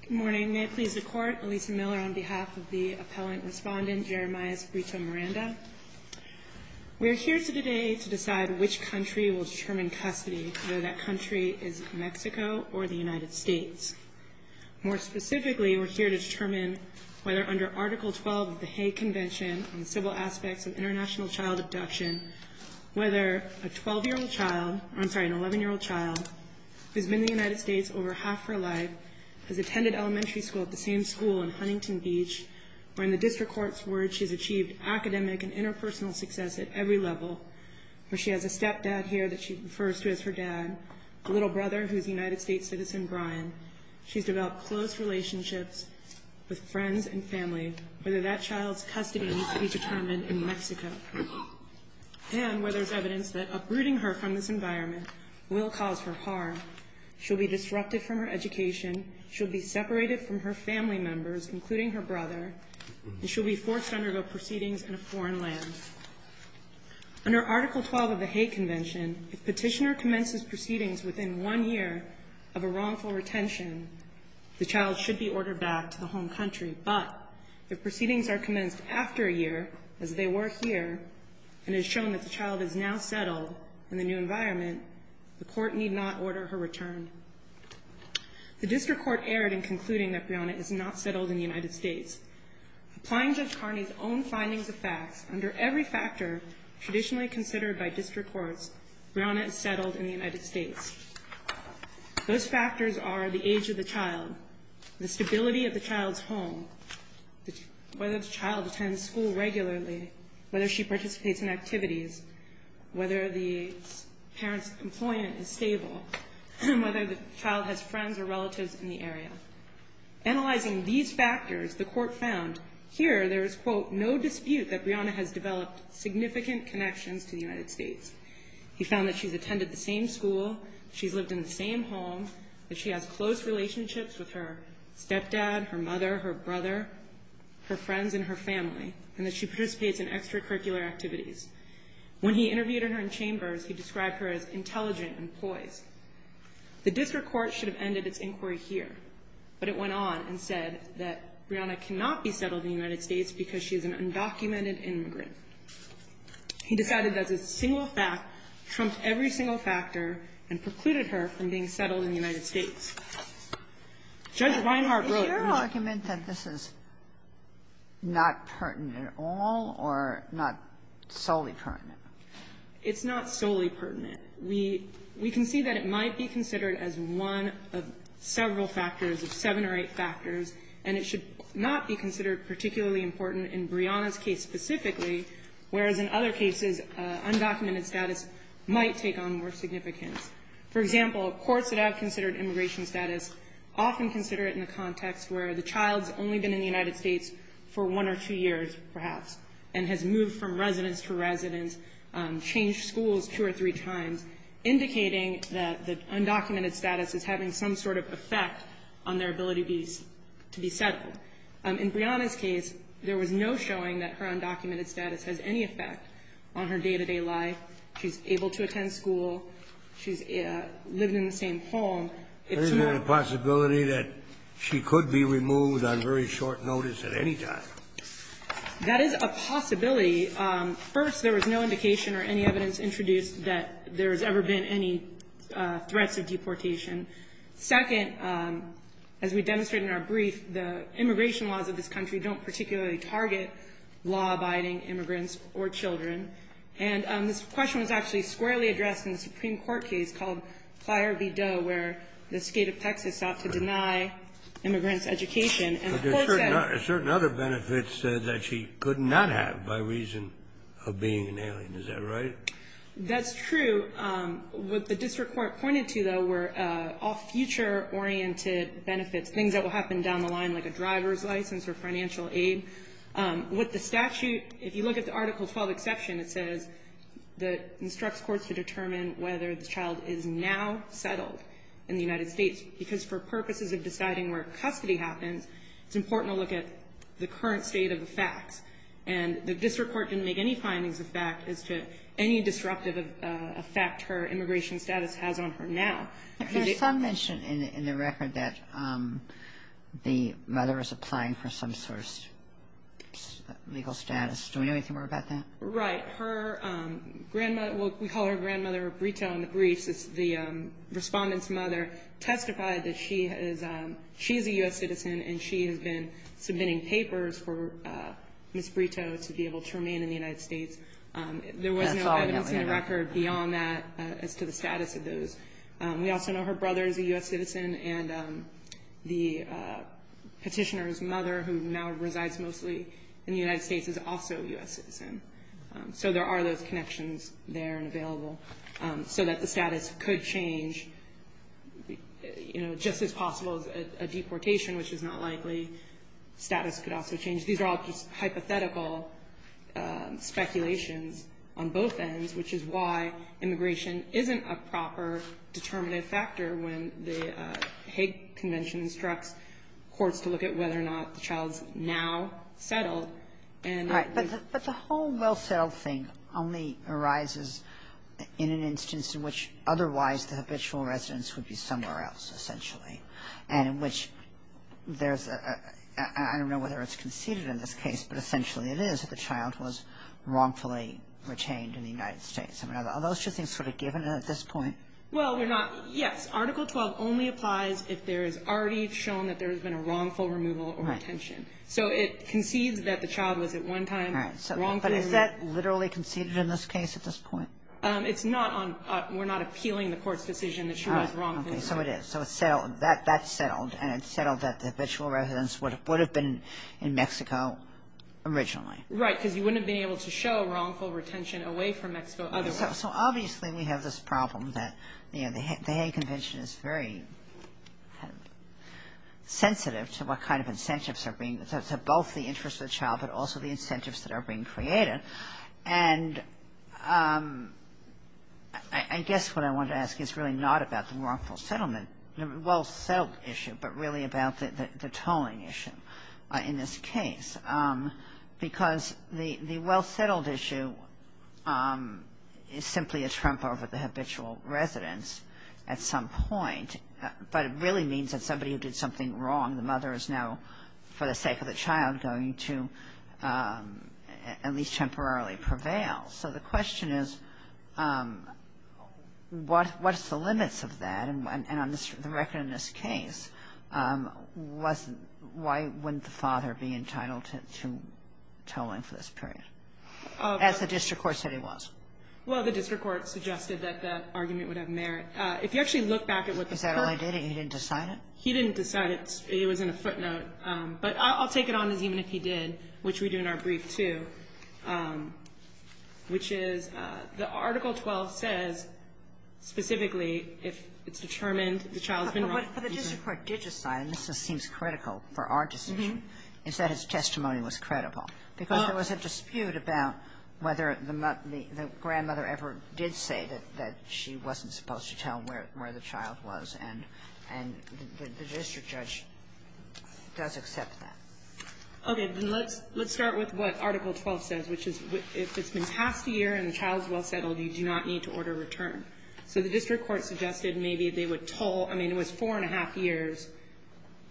Good morning. May it please the court, Elisa Miller on behalf of the appellant respondent, Jeremias Frito-Miranda. We are here today to decide which country will determine custody, whether that country is Mexico or the United States. More specifically, we're here to determine whether under Article 12 of the Hague Convention on the Civil Aspects of International Child Abduction, whether a 12-year-old child, I'm sorry, an 11-year-old child who's been in the United States has attended elementary school at the same school in Huntington Beach, or in the district court's words, she's achieved academic and interpersonal success at every level, where she has a stepdad here that she refers to as her dad, a little brother who's a United States citizen, Brian. She's developed close relationships with friends and family, whether that child's custody needs to be determined in Mexico. And where there's evidence that uprooting her from this environment will cause her harm, she'll be disrupted from her education, she'll be separated from her family members, including her brother, and she'll be forced to undergo proceedings in a foreign land. Under Article 12 of the Hague Convention, if petitioner commences proceedings within one year of a wrongful retention, the child should be ordered back to the home country. But if proceedings are commenced after a year, as they were here, and it's shown that the child is now settled in the new environment, the court need not order her return. The district court erred in concluding that Brianna is not settled in the United States. Applying Judge Carney's own findings of facts, under every factor traditionally considered by district courts, Brianna is settled in the United States. Those factors are the age of the child, the stability of the child's home, whether the child attends school regularly, whether she participates in activities, whether the parent's employment is stable, whether the child has friends or relatives in the area. Analyzing these factors, the court found here there is, quote, no dispute that Brianna has developed significant connections to the United States. He found that she's attended the same school, she's lived in the same home, that she has close relationships with her stepdad, her mother, her brother, her friends, and her family, and that she participates in extracurricular activities. When he interviewed her in chambers, he described her as intelligent and poised. The district court should have ended its inquiry here, but it went on and said that Brianna cannot be settled in the United States because she is an undocumented immigrant. He decided that this single fact trumped every single factor and precluded her from being settled in the United States. Judge Reinhart wrote in his -- not pertinent at all, or not solely pertinent? It's not solely pertinent. We can see that it might be considered as one of several factors, of seven or eight factors, and it should not be considered particularly important in Brianna's case specifically, whereas in other cases, undocumented status might take on more significance. For example, courts that have considered immigration status often consider it in the context where the child's only been in the United States for one or two years, perhaps, and has moved from residence to residence, changed schools two or three times, indicating that the undocumented status is having some sort of effect on their ability to be settled. In Brianna's case, there was no showing that her undocumented status has any effect on her day-to-day life. She's able to attend school. She's living in the same home. It's more of a ---- There's a possibility that she could be removed on very short notice at any time. That is a possibility. First, there was no indication or any evidence introduced that there has ever been any threats of deportation. Second, as we demonstrated in our brief, the immigration laws of this country don't particularly target law-abiding immigrants or children. And this question was actually squarely addressed in the Supreme Court case called Plyer v. Doe, where the state of Texas sought to deny immigrants education. And the court said But there are certain other benefits that she could not have by reason of being an alien. Is that right? That's true. What the district court pointed to, though, were all future-oriented benefits, things that will happen down the line, like a driver's license or financial aid. With the statute, if you look at the Article XII exception, it says that the statute instructs courts to determine whether the child is now settled in the United States, because for purposes of deciding where custody happens, it's important to look at the current state of the facts. And the district court didn't make any findings of fact as to any disruptive effect her immigration status has on her now. Some mention in the record that the mother is applying for some sort of legal status. Do we know anything more about that? Right. Her grandmother we call her grandmother Brito in the briefs. The Respondent's mother testified that she is a U.S. citizen, and she has been submitting papers for Ms. Brito to be able to remain in the United States. There was no evidence in the record beyond that as to the status of those. We also know her brother is a U.S. citizen, and the Petitioner's mother, who now resides mostly in the United States, is also a U.S. citizen. So there are those connections there and available, so that the status could change, you know, just as possible as a deportation, which is not likely. Status could also change. These are all hypothetical speculations on both ends, which is why immigration isn't a proper determinative factor when the Hague Convention instructs courts to look at whether or not the child is now settled. And we've Right. But the whole well-settled thing only arises in an instance in which otherwise the habitual residence would be somewhere else, essentially, and in which there's a – I don't know whether it's conceded in this case, but essentially it is if the child was wrongfully retained in the United States. I mean, are those two things sort of given at this point? Well, we're not – yes. Article 12 only applies if there is already shown that there the child was at one time wrongfully – All right. But is that literally conceded in this case at this point? It's not on – we're not appealing the court's decision that she was wrongfully – All right. Okay. So it is. So it's settled. That's settled. And it's settled that the habitual residence would have been in Mexico originally. Right. Because you wouldn't have been able to show wrongful retention away from Mexico otherwise. So obviously we have this problem that, you know, the Hague Convention is very sensitive to what kind of incentives are being – to both the interest of the child, but also the incentives that are being created. And I guess what I wanted to ask is really not about the wrongful settlement, the well-settled issue, but really about the tolling issue in this case. Because the well-settled issue is simply a trump over the habitual residence at some point. But it really means that somebody who did something wrong, the mother is now, for the sake of the child, going to at least temporarily prevail. So the question is, what's the limits of that? And on the record in this case, why wouldn't the father be entitled to tolling for this period? As the district court said he was. Well, the district court suggested that that argument would have merit. If you actually look back at what the court – Is that all he did? He didn't decide it? He didn't decide it. It was in a footnote. But I'll take it on as even if he did, which we do in our brief, too, which is the Article 12 says specifically if it's determined the child's been wrongfully – But the district court did decide, and this seems critical for our decision, is that his testimony was credible. Because there was a dispute about whether the grandmother ever did say that she wasn't supposed to tell him where the child was, and the district judge does accept that. Okay. Then let's start with what Article 12 says, which is if it's been past a year and the child is well settled, you do not need to order a return. So the district court suggested maybe they would toll – I mean, it was four and a half years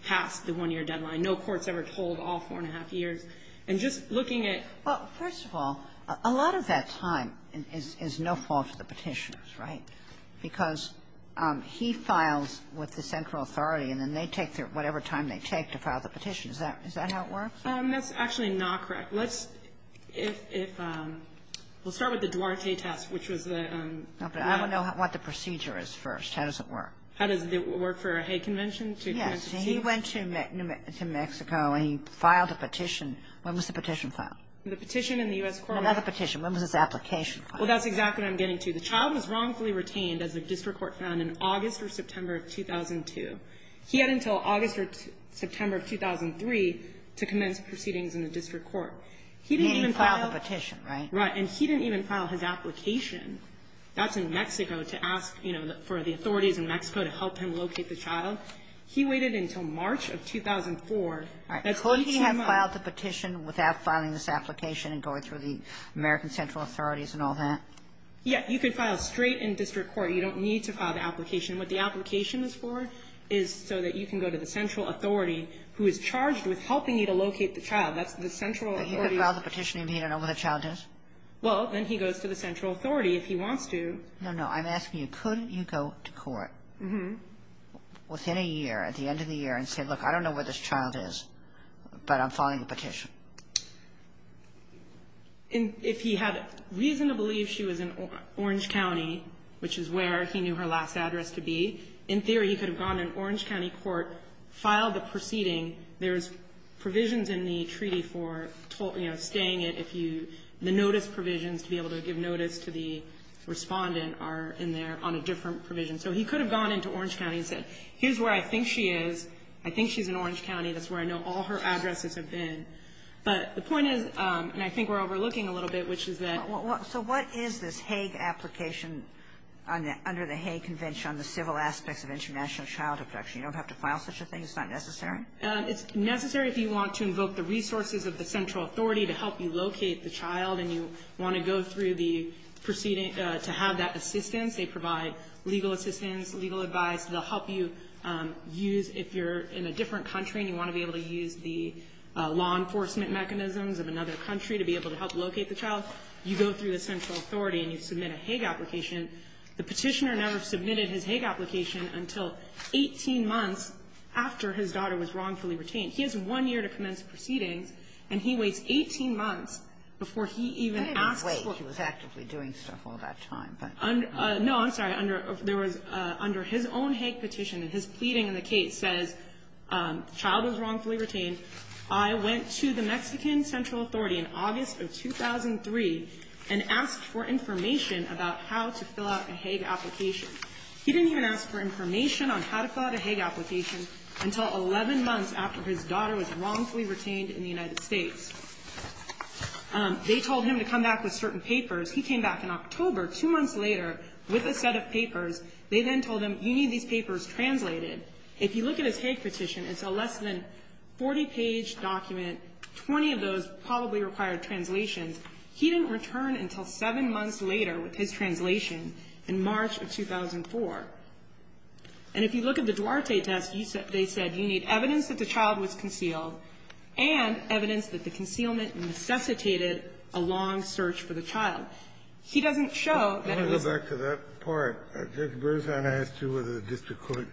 past the one-year deadline. No court's ever tolled all four and a half years. And just looking at – Well, first of all, a lot of that time is no fault of the Petitioner's, right? Because he files with the central authority, and then they take whatever time they take to file the petition. Is that how it works? That's actually not correct. Let's – if – we'll start with the Duarte test, which was the – No, but I want to know what the procedure is first. How does it work? How does it work for a Hague Convention? Yes. He went to Mexico and he filed a petition. When was the petition filed? The petition in the U.S. Court of Appeals. Another petition. When was his application filed? Well, that's exactly what I'm getting to. The child was wrongfully retained, as the district court found, in August or September of 2002. He had until August or September of 2003 to commence proceedings in the district court. He didn't even file – He didn't file the petition, right? Right. And he didn't even file his application. That's in Mexico to ask, you know, for the authorities in Mexico to help him locate the child. He waited until March of 2004. All right. Couldn't he have filed the petition without filing this application and going through the American central authorities and all that? Yeah. You can file straight in district court. You don't need to file the application. What the application is for is so that you can go to the central authority, who is charged with helping you to locate the child. That's the central authority. But he could file the petition and he don't know where the child is? Well, then he goes to the central authority if he wants to. No, no. I'm asking you, couldn't you go to court within a year, at the end of the year, and say, look, I don't know where this child is, but I'm filing a petition? If he had reason to believe she was in Orange County, which is where he knew her last address to be, in theory, he could have gone to Orange County court, filed the proceeding. There's provisions in the treaty for, you know, staying at if you – the notice provisions to be able to give notice to the respondent are in there on a different provision. So he could have gone into Orange County and said, here's where I think she is. I think she's in Orange County. That's where I know all her addresses have been. But the point is, and I think we're overlooking a little bit, which is that – So what is this Hague application under the Hague Convention on the civil aspects of international childhood protection? You don't have to file such a thing? It's not necessary? It's necessary if you want to invoke the resources of the central authority to help you locate the child and you want to go through the proceeding to have that assistance. They provide legal assistance, legal advice. They'll help you use – if you're in a different country and you want to be able to use the law enforcement mechanisms of another country to be able to help locate the child, you go through the central authority and you submit a Hague application. The petitioner never submitted his Hague application until 18 months after his daughter was wrongfully retained. He has one year to commence proceedings, and he waits 18 months before he even asks for – I didn't wait. He was actively doing stuff all that time. No, I'm sorry. Under – there was – under his own Hague petition, his pleading in the case says, child was wrongfully retained. I went to the Mexican central authority in August of 2003 and asked for information about how to fill out a Hague application. He didn't even ask for information on how to fill out a Hague application until 11 months after his daughter was wrongfully retained in the United States. They told him to come back with certain papers. He came back in October, two months later, with a set of papers. They then told him, you need these papers translated. If you look at his Hague petition, it's a less than 40-page document, 20 of those probably required translations. He didn't return until seven months later with his translation in March of 2004. And if you look at the Duarte test, you see that he said, you need evidence that the child was concealed and evidence that the concealment necessitated a long search for the child. He doesn't show that it was – I want to go back to that part. Judge Berzahn asked you whether the district court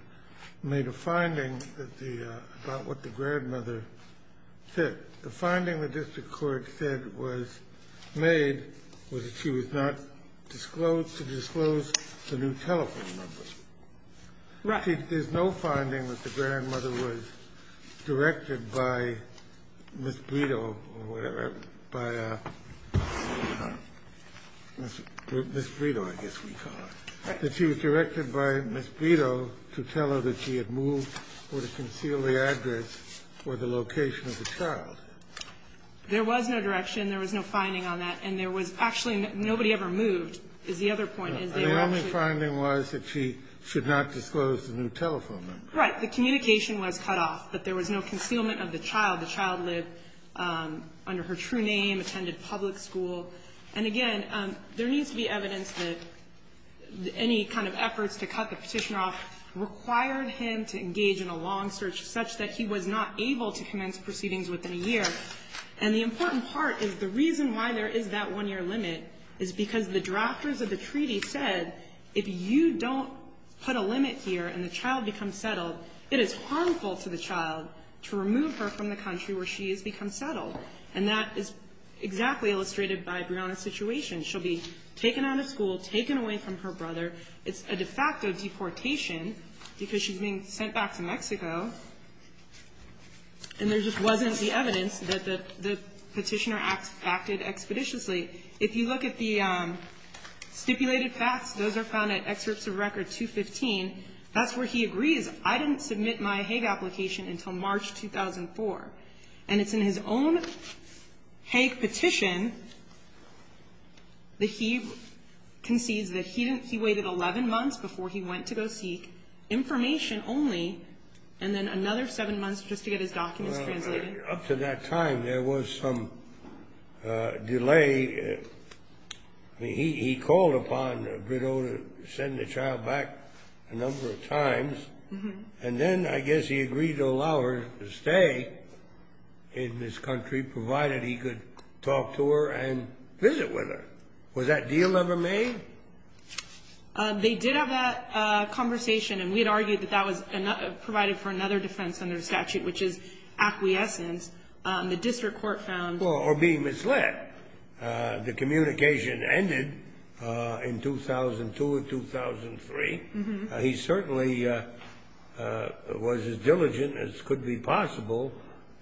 made a finding that the – about what the grandmother said. The finding the district court said was made was that she was not disclosed to disclose the new telephone numbers. Right. But actually, there's no finding that the grandmother was directed by Ms. Brito or whatever, by Ms. Brito, I guess we call her, that she was directed by Ms. Brito to tell her that she had moved or to conceal the address or the location of the child. There was no direction. There was no finding on that. And there was actually nobody ever moved, is the other point. The only finding was that she should not disclose the new telephone number. Right. The communication was cut off, that there was no concealment of the child. The child lived under her true name, attended public school. And again, there needs to be evidence that any kind of efforts to cut the Petitioner off required him to engage in a long search such that he was not able to commence proceedings within a year. And the important part is the reason why there is that one-year limit is because the drafters of the treaty said if you don't put a limit here and the child becomes settled, it is harmful to the child to remove her from the country where she has become settled. And that is exactly illustrated by Breonna's situation. She'll be taken out of school, taken away from her brother. It's a de facto deportation because she's being sent back to Mexico, and there just wasn't the evidence that the Petitioner acted expeditiously. If you look at the stipulated facts, those are found at Excerpts of Record 215. That's where he agrees. I didn't submit my Hague application until March 2004. And it's in his own Hague petition that he concedes that he waited 11 months before he went to go seek information only, and then another seven months just to get his documents translated. And up to that time, there was some delay. He called upon Brito to send the child back a number of times. And then I guess he agreed to allow her to stay in this country, provided he could talk to her and visit with her. Was that deal ever made? They did have that conversation, and we had argued that that was provided for another defense under the statute, which is acquiescence. The district court found that. Or being misled. The communication ended in 2002 or 2003. He certainly was as diligent as could be possible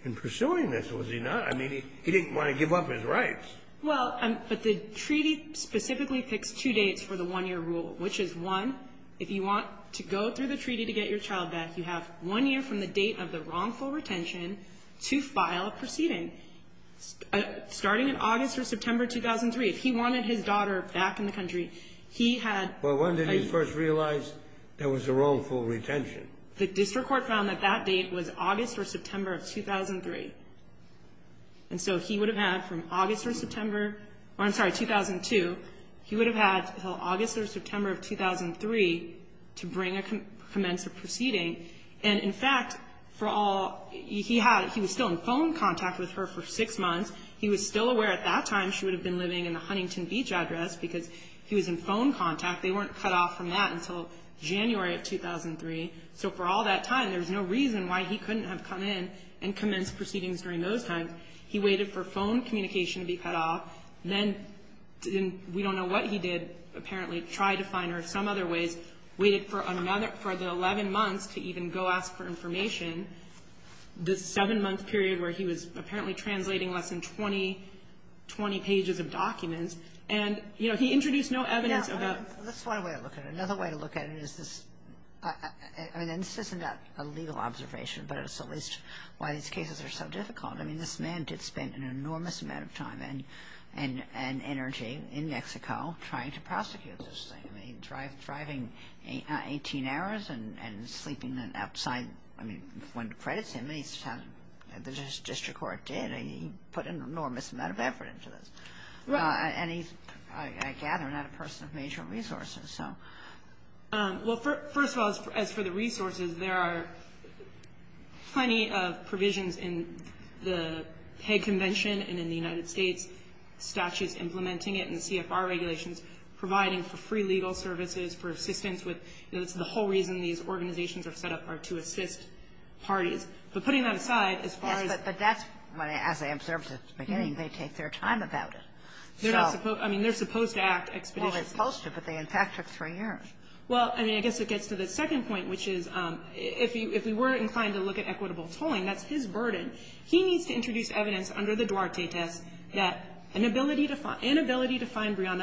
in pursuing this, was he not? I mean, he didn't want to give up his rights. Well, but the treaty specifically picks two dates for the one-year rule, which is, one, if you want to go through the treaty to get your child back, you have one year from the date of the wrongful retention to file a proceeding. Starting in August or September 2003, if he wanted his daughter back in the country, he had a ---- But when did he first realize there was a wrongful retention? The district court found that that date was August or September of 2003. And so he would have had from August or September or, I'm sorry, 2002, he would have had from August or September 2003 to bring a commensurate proceeding. And, in fact, for all he had, he was still in phone contact with her for six months. He was still aware at that time she would have been living in the Huntington Beach address because he was in phone contact. They weren't cut off from that until January of 2003. So for all that time, there was no reason why he couldn't have come in and commenced proceedings during those times. He waited for phone communication to be cut off. Then we don't know what he did, apparently. Tried to find her some other ways. Waited for another ---- for the 11 months to even go ask for information, the seven-month period where he was apparently translating less than 20, 20 pages of documents. And, you know, he introduced no evidence about ---- Now, let's find a way to look at it. Another way to look at it is this ---- I mean, this isn't a legal observation, but it's at least why these cases are so difficult. I mean, this man did spend an enormous amount of time. And energy in Mexico trying to prosecute this thing. I mean, driving 18 hours and sleeping outside. I mean, one credits him. The district court did. He put an enormous amount of effort into this. And he's, I gather, not a person of major resources. Well, first of all, as for the resources, there are plenty of provisions in the United States statutes implementing it and CFR regulations providing for free legal services, for assistance with ---- you know, that's the whole reason these organizations are set up are to assist parties. But putting that aside, as far as ---- Yes, but that's, as I observed at the beginning, they take their time about it. So ---- They're not supposed to. I mean, they're supposed to act expeditiously. Well, they're supposed to, but they, in fact, took three years. Well, I mean, I guess it gets to the second point, which is if we were inclined to look at equitable tolling, that's his burden. He needs to introduce evidence under the Duarte test that an inability to find Brianna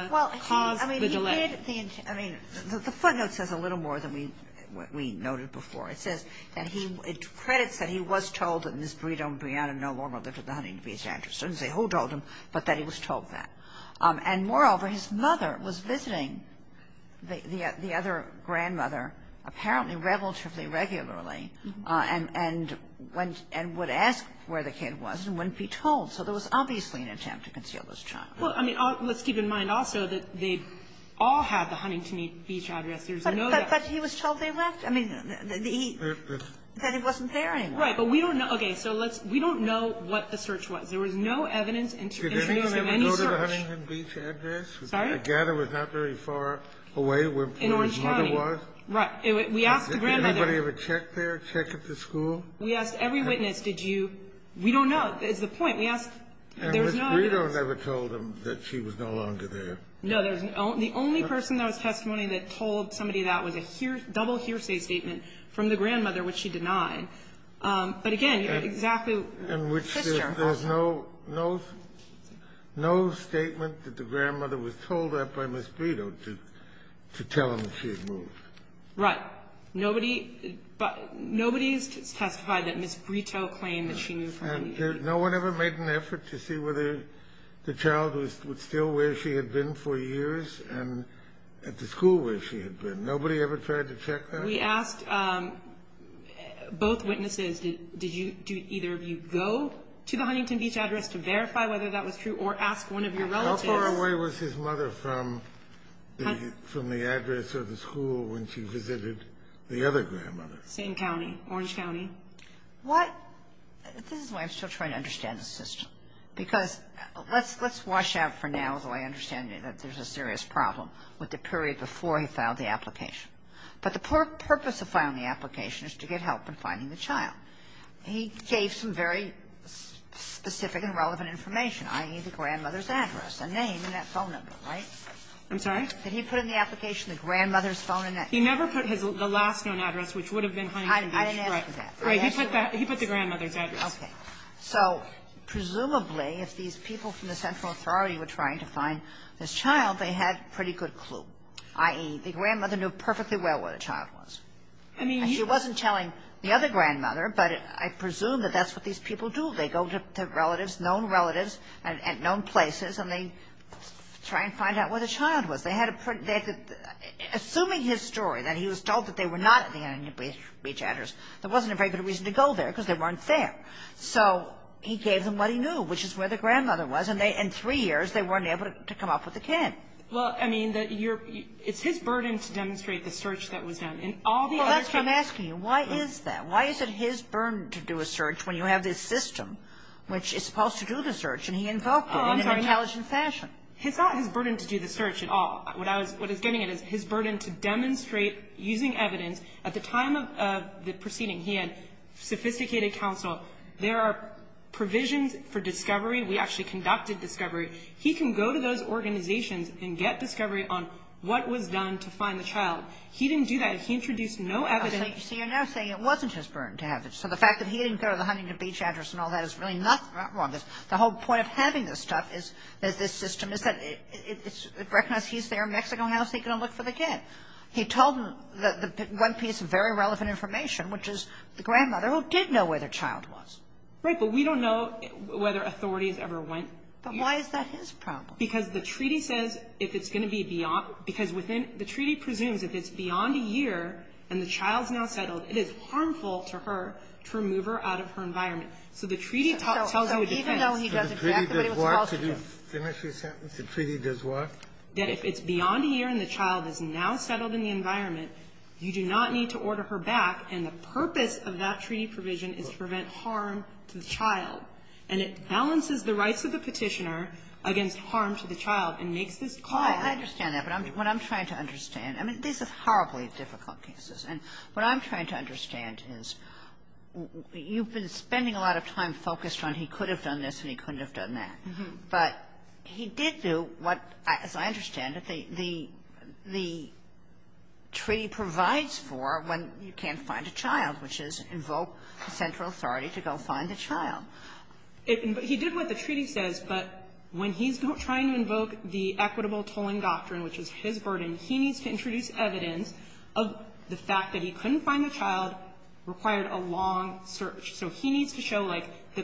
caused the delay. Well, I mean, he did the intent. I mean, the footnote says a little more than we noted before. It says that he, it credits that he was told that Ms. Brito and Brianna no longer lived with the Huntington Beach ranchers. It doesn't say who told him, but that he was told that. And, moreover, his mother was visiting the other grandmother apparently relatively regularly and went and would ask where the kid was and wouldn't be told. So there was obviously an attempt to conceal this child. Well, I mean, let's keep in mind also that they all had the Huntington Beach address. There's no doubt. But he was told they left. I mean, that he wasn't there anymore. Right. But we don't know. Okay. So let's ---- we don't know what the search was. There was no evidence in terms of any search. Did they ever go to the Huntington Beach address? Sorry? I gather it was not very far away from where his mother was. In Orange County. We asked the grandmother. Did anybody ever check there, check at the school? We asked every witness, did you ---- we don't know. That's the point. We asked ---- there was no evidence. And Ms. Brito never told them that she was no longer there. No. The only person that was testimony that told somebody that was a double hearsay statement from the grandmother, which she denied. But, again, exactly ---- And which there's no statement that the grandmother was told that by Ms. Brito to tell him that she had moved. Right. But nobody ---- nobody's testified that Ms. Brito claimed that she knew from anything. And no one ever made an effort to see whether the child was still where she had been for years and at the school where she had been. Nobody ever tried to check that? We asked both witnesses, did you ---- did either of you go to the Huntington Beach address to verify whether that was true or ask one of your relatives? How far away was his mother from the address or the school when she visited the other grandmother? Same county. Orange County. What ---- this is why I'm still trying to understand the system, because let's wash out for now, although I understand that there's a serious problem, with the period before he filed the application. But the purpose of filing the application is to get help in finding the child. He gave some very specific and relevant information, i.e., the grandmother's address and name and that phone number, right? I'm sorry? Did he put in the application the grandmother's phone number? He never put the last known address, which would have been Huntington Beach. I didn't ask for that. He put the grandmother's address. Okay. So presumably, if these people from the central authority were trying to find this child, they had a pretty good clue, i.e., the grandmother knew perfectly well where the child was. I mean, you ---- She wasn't telling the other grandmother, but I presume that that's what these people do. They go to relatives, known relatives at known places, and they try and find out where the child was. They had a pretty ---- assuming his story, that he was told that they were not at the Huntington Beach address, there wasn't a very good reason to go there, because they weren't there. So he gave them what he knew, which is where the grandmother was, and they, in three years, they weren't able to come up with the kid. Well, I mean, that you're ---- it's his burden to demonstrate the search that was done and all the other things. Well, that's what I'm asking you. Why is that? Why is it his burden to do a search when you have this system which is supposed to do the search, and he invoked it in an intelligent fashion? Oh, I'm sorry. It's not his burden to do the search at all. What I was getting at is his burden to demonstrate, using evidence, at the time of the proceeding, he had sophisticated counsel. There are provisions for discovery. We actually conducted discovery. He can go to those organizations and get discovery on what was done to find the child. He didn't do that. He introduced no evidence. So you're now saying it wasn't his burden to have it. So the fact that he didn't go to the Huntington Beach address and all that is really not wrong. The whole point of having this stuff, this system, is that it recognizes he's there in Mexico. How is he going to look for the kid? He told them the one piece of very relevant information, which is the grandmother who did know where the child was. But we don't know whether authorities ever went. But why is that his problem? Because the treaty says if it's going to be beyond the treaty presumes if it's beyond a year and the child's now settled, it is harmful to her to remove her out of her environment. So the treaty tells you a defense. Kennedy, didn't she say the treaty does what? That if it's beyond a year and the child is now settled in the environment, you do not need to order her back. And the purpose of that treaty provision is to prevent harm to the child. And it balances the rights of the Petitioner against harm to the child and makes Kagan. Kagan. I understand that. But what I'm trying to understand, I mean, these are horribly difficult cases. And what I'm trying to understand is you've been spending a lot of time focused on he could have done this and he couldn't have done that. But he did do what, as I understand it, the treaty provides for when you can't find a child, which is invoke central authority to go find the child. He did what the treaty says, but when he's trying to invoke the equitable tolling doctrine, which is his burden, he needs to introduce evidence of the fact that he couldn't find the child, required a long search. So he needs to show, like the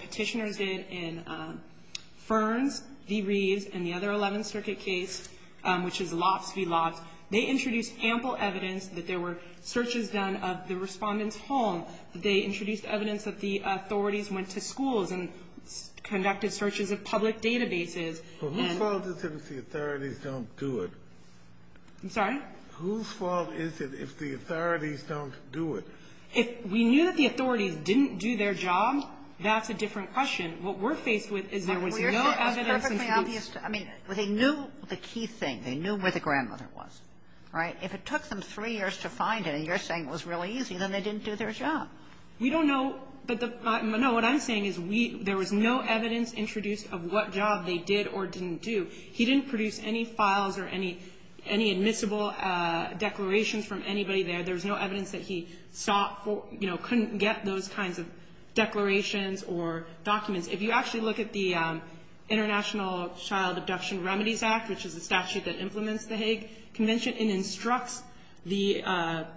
Petitioners did in Ferns v. Reeves and the other Eleventh Circuit case, which is Lofts v. Lofts. They introduced ample evidence that there were searches done of the Respondent's home. They introduced evidence that the authorities went to schools and conducted searches of public databases. And then -- But whose fault is it if the authorities don't do it? I'm sorry? Whose fault is it if the authorities don't do it? If we knew that the authorities didn't do their job, that's a different question. What we're faced with is there was no evidence that he did. It's perfectly obvious. I mean, they knew the key thing. They knew where the grandmother was, right? But if it took them three years to find it and you're saying it was really easy, then they didn't do their job. We don't know. But the -- no, what I'm saying is we -- there was no evidence introduced of what job they did or didn't do. He didn't produce any files or any admissible declarations from anybody there. There was no evidence that he sought for, you know, couldn't get those kinds of declarations or documents. If you actually look at the International Child Abduction Remedies Act, which is a statute that implements the Hague Convention and instructs the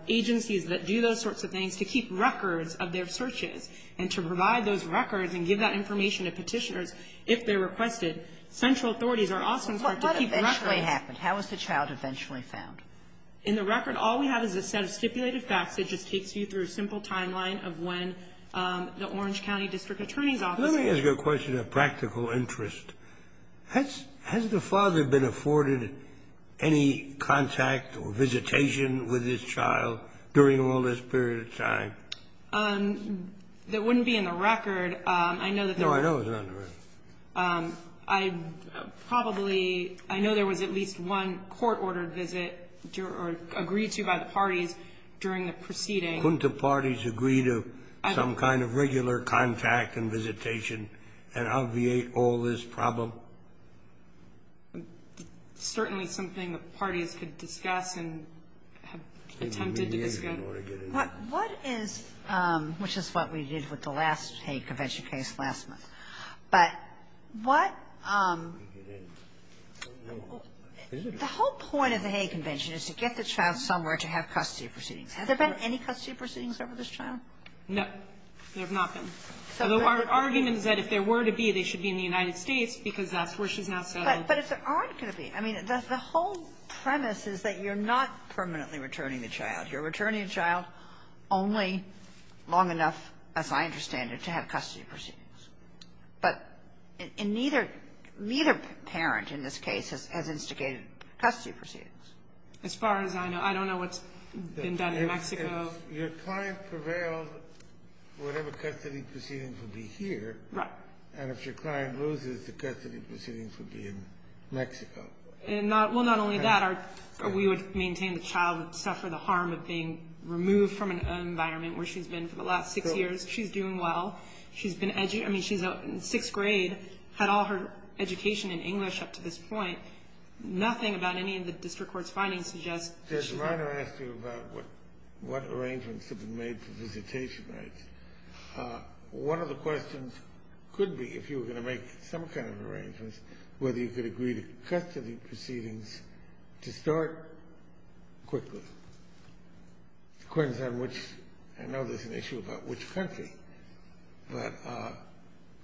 agencies that do those sorts of things to keep records of their searches and to provide those records and give that information to Petitioners if they're requested, central authorities are also required to keep records. How was the child eventually found? In the record, all we have is a set of stipulated facts that just takes you through a simple timeline of when the Orange County district attorney's office was found. Scalia. I want to ask you a question of practical interest. Has the father been afforded any contact or visitation with his child during all this period of time? That wouldn't be in the record. I know that there were --. No, I know it's not in the record. I probably -- I know there was at least one court-ordered visit or agreed to by the parties during the proceeding. Couldn't the parties agree to some kind of regular contact and visitation and obviate all this problem? Certainly something the parties could discuss and have attempted to discuss. What is, which is what we did with the last Hague Convention case last month, but what the whole point of the Hague Convention is to get the child somewhere to have custody proceedings. Has there been any custody proceedings over this child? No, there have not been. So the argument is that if there were to be, they should be in the United States because that's where she's now settled. But if there aren't going to be, I mean, the whole premise is that you're not permanently returning the child. You're returning a child only long enough, as I understand it, to have custody proceedings. But neither parent in this case has instigated custody proceedings. As far as I know. I don't know what's been done in Mexico. If your client prevailed, whatever custody proceedings would be here. Right. And if your client loses, the custody proceedings would be in Mexico. Well, not only that. We would maintain the child would suffer the harm of being removed from an environment where she's been for the last six years. She's doing well. She's been educated. I mean, she's in sixth grade, had all her education in English up to this point. Nothing about any of the district court's findings suggests that she should be. Your Honor, I asked you about what arrangements have been made for visitation rights. One of the questions could be, if you were going to make some kind of arrangements, whether you could agree to custody proceedings to start quickly. I know there's an issue about which country. But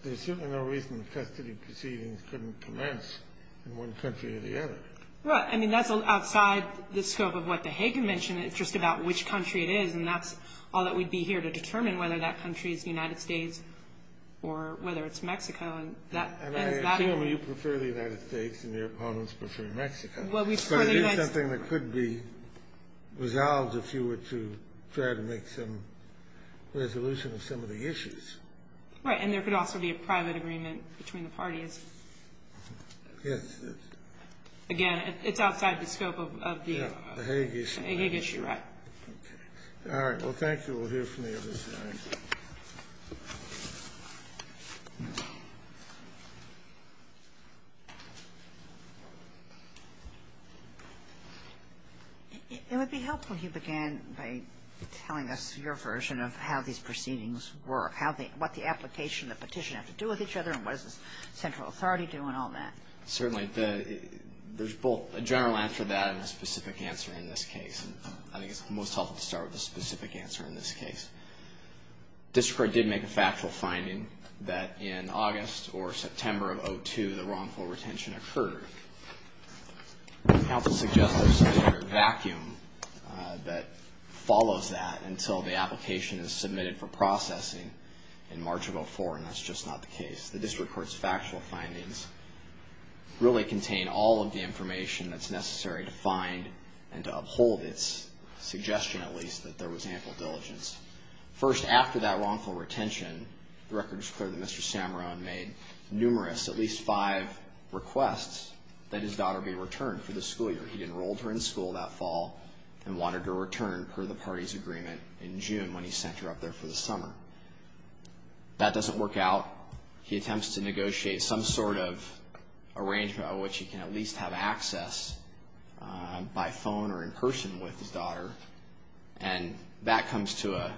there's certainly no reason custody proceedings couldn't commence in one country or the other. Well, I mean, that's outside the scope of what the Hagan mentioned. It's just about which country it is. And that's all that we'd be here to determine, whether that country is the United States or whether it's Mexico. And I assume you prefer the United States and your opponents prefer Mexico. Well, we prefer the United States. But it is something that could be resolved if you were to try to make some resolution of some of the issues. Right. And there could also be a private agreement between the parties. Yes. Again, it's outside the scope of the Hague issue. The Hague issue. Right. Okay. All right. Well, thank you. We'll hear from you at this time. It would be helpful if you began by telling us your version of how these proceedings were. Thank you. I think it's most helpful to start with a specific answer in this case. The district court did make a factual finding that in August or September of 2, the wrongful retention occurred. I'd help to suggest that there's a sort of vacuum that follows that until the application Okay. The district court's factual findings really contain all of the information that's necessary to find and to uphold its suggestion, at least, that there was ample diligence. First, after that wrongful retention, the record's clear that Mr. Samarone made numerous, at least five requests that his daughter be returned for the school year. He enrolled her in school that fall and wanted her returned per the party's agreement in June when he sent her up there for the summer. That doesn't work out. He attempts to negotiate some sort of arrangement by which he can at least have access by phone or in person with his daughter, and that comes to a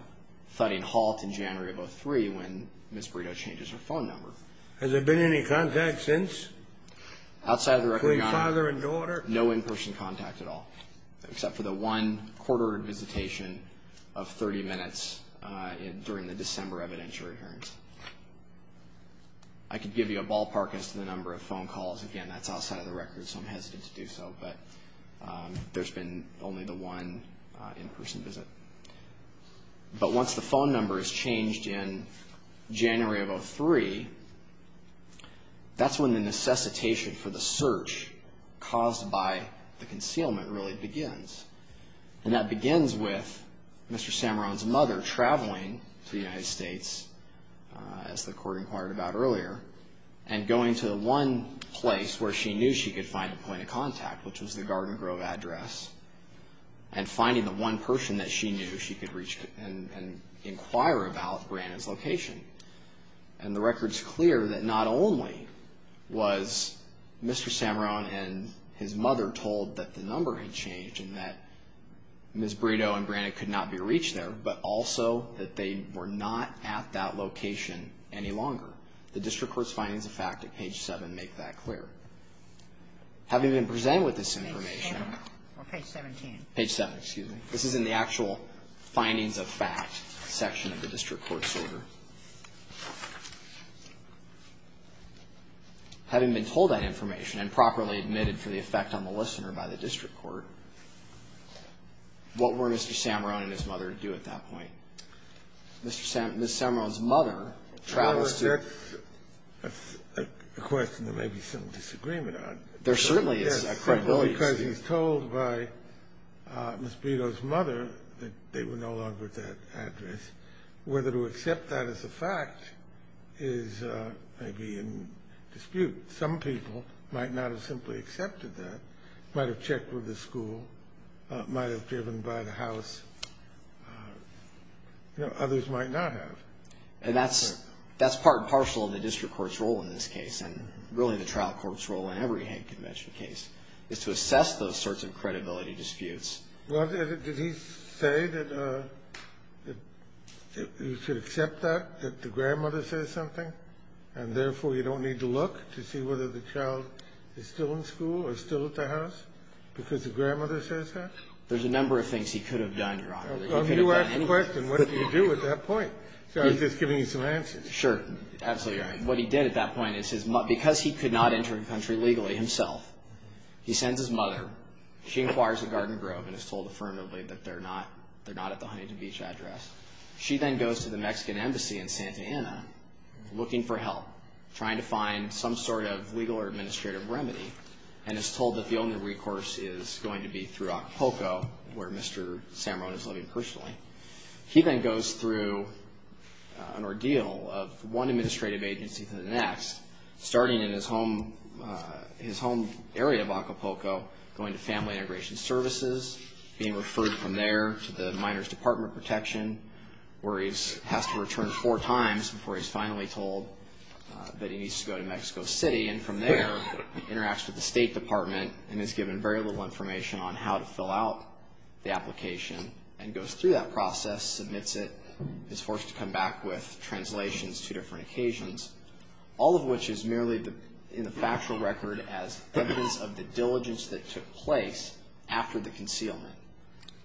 thudding halt in January of 2003 when Ms. Burrito changes her phone number. Has there been any contact since? Outside of the record, Your Honor. Between father and daughter? No in-person contact at all, except for the one court-ordered visitation of 30 minutes during the summer. The December evidentiary hearings. I could give you a ballpark as to the number of phone calls. Again, that's outside of the record, so I'm hesitant to do so, but there's been only the one in-person visit. But once the phone number is changed in January of 2003, that's when the necessitation for the search caused by the concealment really begins, and that begins with Mr. Samarone's mother traveling to the United States, as the court inquired about earlier, and going to one place where she knew she could find a point of contact, which was the Garden Grove address, and finding the one person that she knew she could reach and inquire about Brannett's location. And the record's clear that not only was Mr. Samarone and his mother told that the number had changed and that Ms. Brito and Brannett could not be reached there, but also that they were not at that location any longer. The district court's findings of fact at page 7 make that clear. Having been presented with this information... Page 7, or page 17. Page 7, excuse me. This is in the actual findings of fact section of the district court's order. Having been told that information and properly admitted for the effect on the listener by the district court, what were Mr. Samarone and his mother to do at that point? Ms. Samarone's mother travels to... Well, that's a question there may be some disagreement on. There certainly is a credibility issue. Yes, because he's told by Ms. Brito's mother that they were no longer at that address. Whether to accept that as a fact is maybe in dispute. Some people might not have simply accepted that, might have checked with the school, might have driven by the house. Others might not have. And that's part and parcel of the district court's role in this case, and really the trial court's role in every Hague Convention case, is to assess those sorts of credibility disputes. Well, did he say that you should accept that, that the grandmother says something, and therefore you don't need to look to see whether the child is still in school or still at the house because the grandmother says that? There's a number of things he could have done, Your Honor. Well, you asked the question, what did he do at that point? So I'm just giving you some answers. Sure. Absolutely right. What he did at that point is because he could not enter the country legally himself, he sends his mother. She inquires at Garden Grove and is told affirmatively that they're not at the Huntington Beach address. She then goes to the Mexican Embassy in Santa Ana looking for help, trying to find some sort of legal or administrative remedy, and is told that the only recourse is going to be through Acapulco, where Mr. Samarone is living personally. He then goes through an ordeal of one administrative agency to the next, starting in his home area of Acapulco, going to Family Integration Services, being referred from there to the Minor's Department of Protection, where he has to return four times before he's finally told that he needs to go to Mexico City, and from there he interacts with the State Department and is given very little information on how to fill out the application, and goes through that process, submits it, is forced to come back with translations to different occasions, all of which is merely in the factual record as evidence of the diligence that took place after the concealment.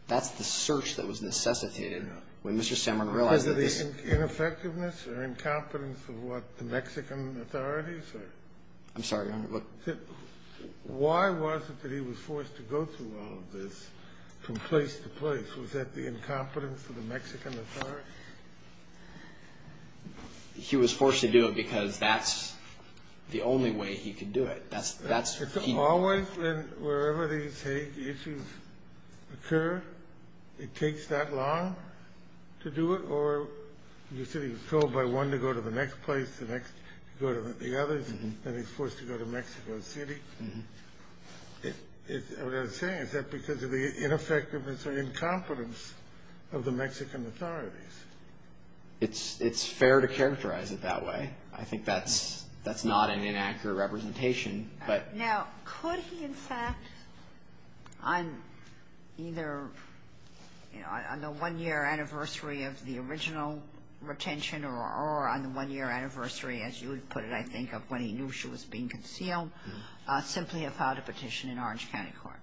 That's the search that was necessitated when Mr. Samarone realized that this was the only way he could do it. Is it ineffectiveness or incompetence of what the Mexican authorities are? I'm sorry, Your Honor. Why was it that he was forced to go through all of this from place to place? Was that the incompetence of the Mexican authorities? He was forced to do it because that's the only way he could do it. That's... Was he forced, and wherever these issues occur, it takes that long to do it, or you said he was told by one to go to the next place, to go to the other, and then he's forced to go to Mexico City? What I'm saying is that because of the ineffectiveness or incompetence of the Mexican authorities. It's fair to characterize it that way. I think that's not an inaccurate representation. Now, could he, in fact, on either, on the one-year anniversary of the original retention, or on the one-year anniversary, as you would put it, I think, of when he knew she was being concealed, simply have filed a petition in Orange County Court?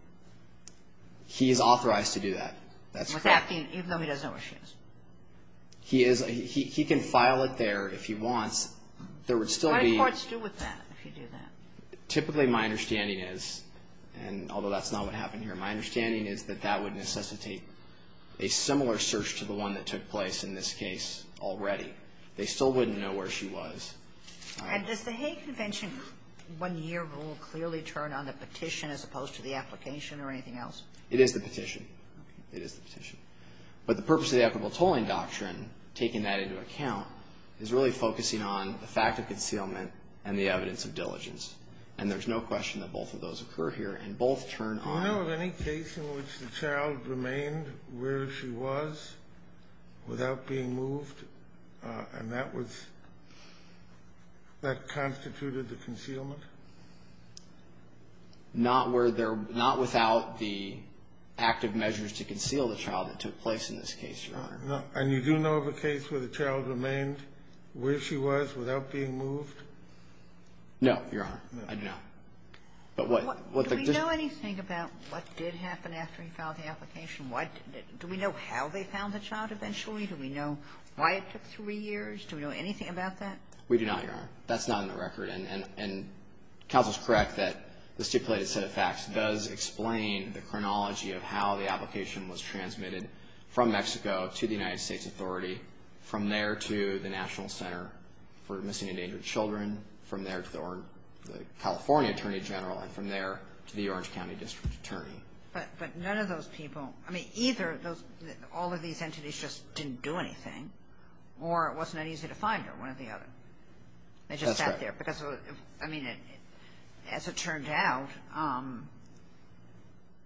He is authorized to do that. That's correct. He can file it there if he wants. What do courts do with that if you do that? Typically, my understanding is, and although that's not what happened here, my understanding is that that would necessitate a similar search to the one that took place in this case already. They still wouldn't know where she was. And does the Hague Convention one-year rule clearly turn on the petition as opposed to the application or anything else? It is the petition. But the purpose of the equitable tolling doctrine, taking that into account, is really focusing on the fact of concealment and the evidence of diligence. And there's no question that both of those occur here, and both turn on. Do you know of any case in which the child remained where she was without being moved and that was, that constituted the concealment? Not where there, not without the active measures to conceal the child that took place in this case, Your Honor. And you do know of a case where the child remained where she was without being moved? No, Your Honor. No. I do not. But what the decision Do we know anything about what did happen after he filed the application? Do we know how they found the child eventually? Do we know why it took three years? Do we know anything about that? We do not, Your Honor. That's not in the record. And counsel is correct that the stipulated set of facts does explain the chronology of how the application was transmitted from Mexico to the United States Authority, from there to the National Center for Missing and Endangered Children, from there to the California Attorney General, and from there to the Orange County District Attorney. But none of those people, I mean, either all of these entities just didn't do anything, or it wasn't easy to find her, one or the other. That's correct. They just sat there, because as it turned out,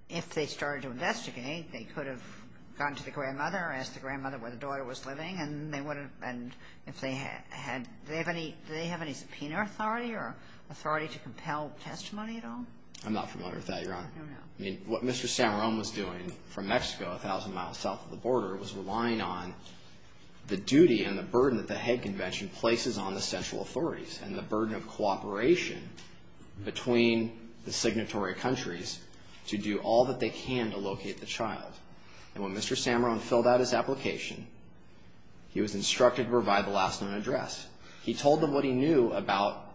if they started to investigate, they could have gone to the grandmother, asked the grandmother where the daughter was living, and they would have been, if they had, do they have any subpoena authority or authority to compel testimony at all? I'm not familiar with that, Your Honor. No, no. I mean, what Mr. Samarone was doing from Mexico, a thousand miles south of the border, was relying on the duty and the burden that the head convention places on the central authorities, and the burden of cooperation between the signatory countries to do all that they can to locate the child. And when Mr. Samarone filled out his application, he was instructed to provide the last known address. He told them what he knew about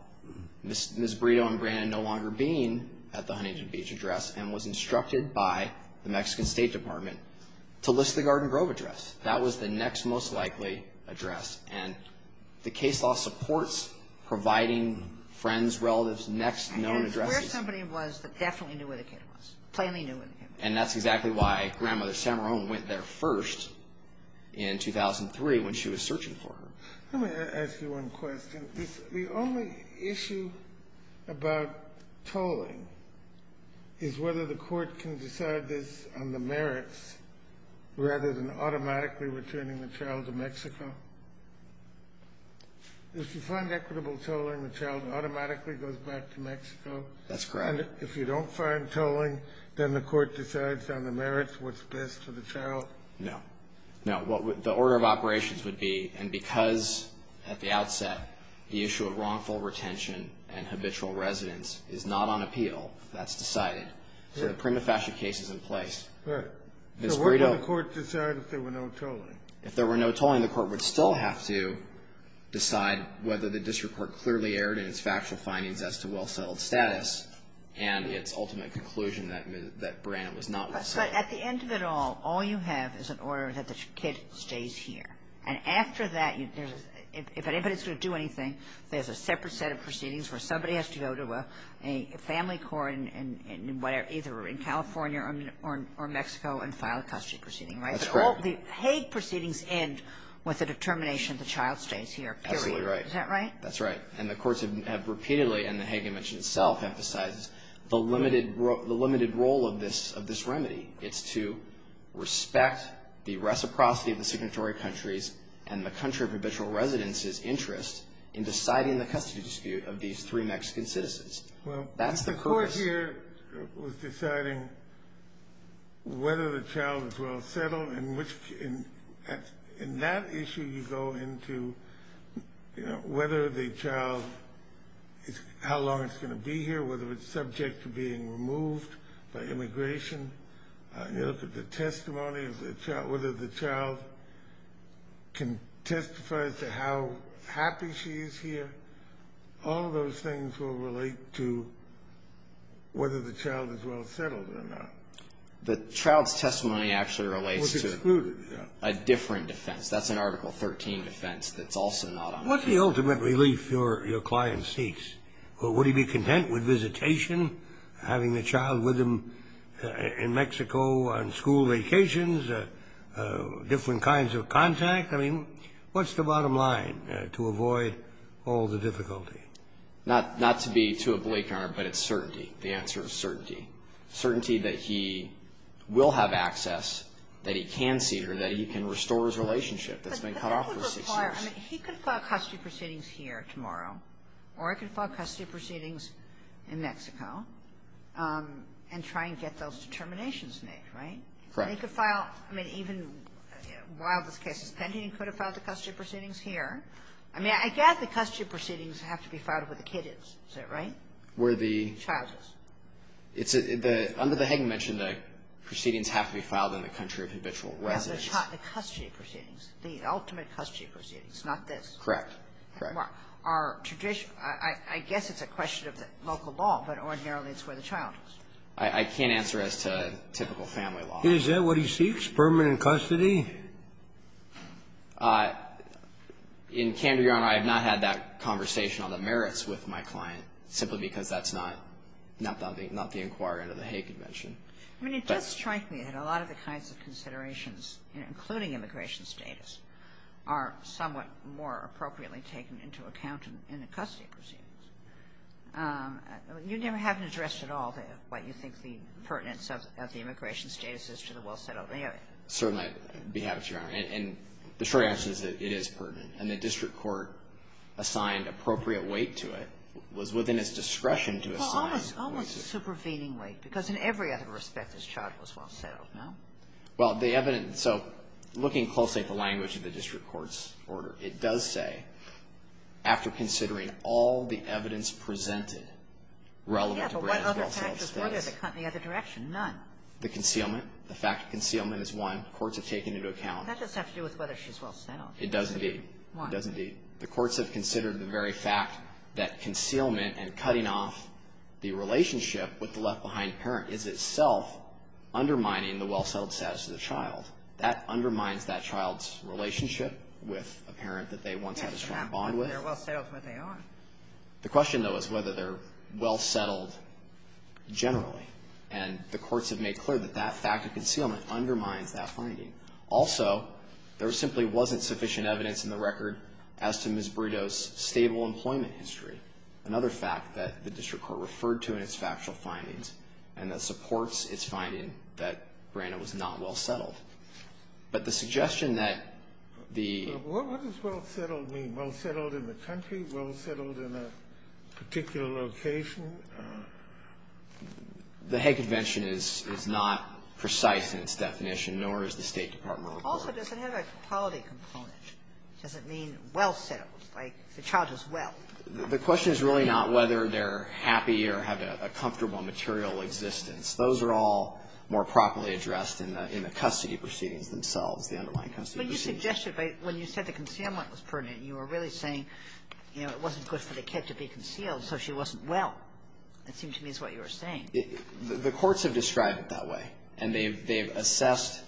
Ms. Brito and Brandon no longer being at the Huntington Beach address, and was instructed by the Mexican State Department to list the Garden Grove address. That was the next most likely address, and the case law supports providing friends, relatives, next known addresses. And where somebody was that definitely knew where the kid was, plainly knew where the kid was. And that's exactly why Grandmother Samarone went there first in 2003 when she was searching for her. Let me ask you one question. The only issue about tolling is whether the court can decide this on the merits rather than automatically returning the child to Mexico. If you find equitable tolling, the child automatically goes back to Mexico? That's correct. And if you don't find tolling, then the court decides on the merits what's best for the child? No. No. The order of operations would be, and because at the outset, the issue of wrongful retention and habitual residence is not on appeal, that's decided. So the prima facie case is in place. Right. So where did the court decide if there were no tolling? If there were no tolling, the court would still have to decide whether the district court clearly erred in its factual findings as to well-settled status and its ultimate conclusion that Branham was not well-settled. But at the end of it all, all you have is an order that the kid stays here. And after that, if anybody's going to do anything, there's a separate set of proceedings where somebody has to go to a family court in either California or Mexico and file a custody proceeding, right? That's correct. But all the Hague proceedings end with the determination the child stays here, period. Absolutely right. Is that right? That's right. And the courts have repeatedly, and the Hague Convention itself emphasizes, the limited role of this remedy. It's to respect the reciprocity of the signatory countries and the country of habitual residence's interest in deciding the custody dispute of these three Mexican citizens. That's the purpose. Well, if the court here was deciding whether the child is well-settled, in that issue you go into whether the child, how long it's going to be here, whether it's subject to being removed by immigration. You look at the testimony of whether the child can testify as to how happy she is here. All of those things will relate to whether the child is well-settled or not. The child's testimony actually relates to a different defense. That's an Article 13 defense that's also not on the case. What's the ultimate relief your client seeks? Would he be content with visitation, having the child with him in Mexico on school vacations, different kinds of contact? I mean, what's the bottom line to avoid all the difficulty? Not to be too oblique, Your Honor, but it's certainty. The answer is certainty. Certainty that he will have access, that he can see her, that he can restore his relationship that's been cut off for six years. But that would require, I mean, he could file custody proceedings here tomorrow, or he could file custody proceedings in Mexico and try and get those determinations made, right? Correct. And he could file, I mean, even while this case is pending, he could have filed the custody proceedings here. I mean, I guess the custody proceedings have to be filed where the kid is. Is that right? Where the child is. It's a the under the Hagen mentioned the proceedings have to be filed in the country of habitual residence. The custody proceedings, the ultimate custody proceedings, not this. Correct. Are traditional, I guess it's a question of the local law, but ordinarily it's where the child is. I can't answer as to typical family law. Is that what he seeks, permanent custody? In Camden, Your Honor, I have not had that conversation on the merits with my client simply because that's not the inquiry under the Hagen mention. I mean, it does strike me that a lot of the kinds of considerations, including immigration status, are somewhat more appropriately taken into account in the custody proceedings. You never have addressed at all what you think the pertinence of the immigration status is to the well-settled area. Certainly, it behaves, Your Honor, and the short answer is that it is pertinent. And the district court assigned appropriate weight to it, was within its discretion to assign. Almost supervening weight, because in every other respect, this child was well-settled, no? Well, the evidence, so looking closely at the language of the district court's order, it does say, after considering all the evidence presented relevant to the well-settled status. Yeah, but what other factors were there that cut in the other direction? None. The concealment. The fact of concealment is one. Courts have taken into account. That doesn't have to do with whether she's well-settled. It does indeed. Why? It does indeed. The courts have considered the very fact that concealment and cutting off the relationship with the left-behind parent is itself undermining the well-settled status of the child. That undermines that child's relationship with a parent that they once had a strong bond with. They're well-settled where they are. The question, though, is whether they're well-settled generally. And the courts have made clear that that fact of concealment undermines that finding. Also, there simply wasn't sufficient evidence in the record as to Ms. Brito's stable employment history, another fact that the district court referred to in its factual findings, and that supports its finding that Brenda was not well-settled. But the suggestion that the ---- What does well-settled mean? Well-settled in the country? Well-settled in a particular location? The Hague Convention is not precise in its definition, nor is the State Department of the courts. Also, does it have a quality component? Does it mean well-settled, like the child is well? The question is really not whether they're happy or have a comfortable material existence. Those are all more properly addressed in the custody proceedings themselves, the underlying custody proceedings. But you suggested when you said the concealment was pertinent, you were really saying, you know, it wasn't good for the kid to be concealed, so she wasn't well. It seems to me that's what you were saying. The courts have described it that way. And they've assessed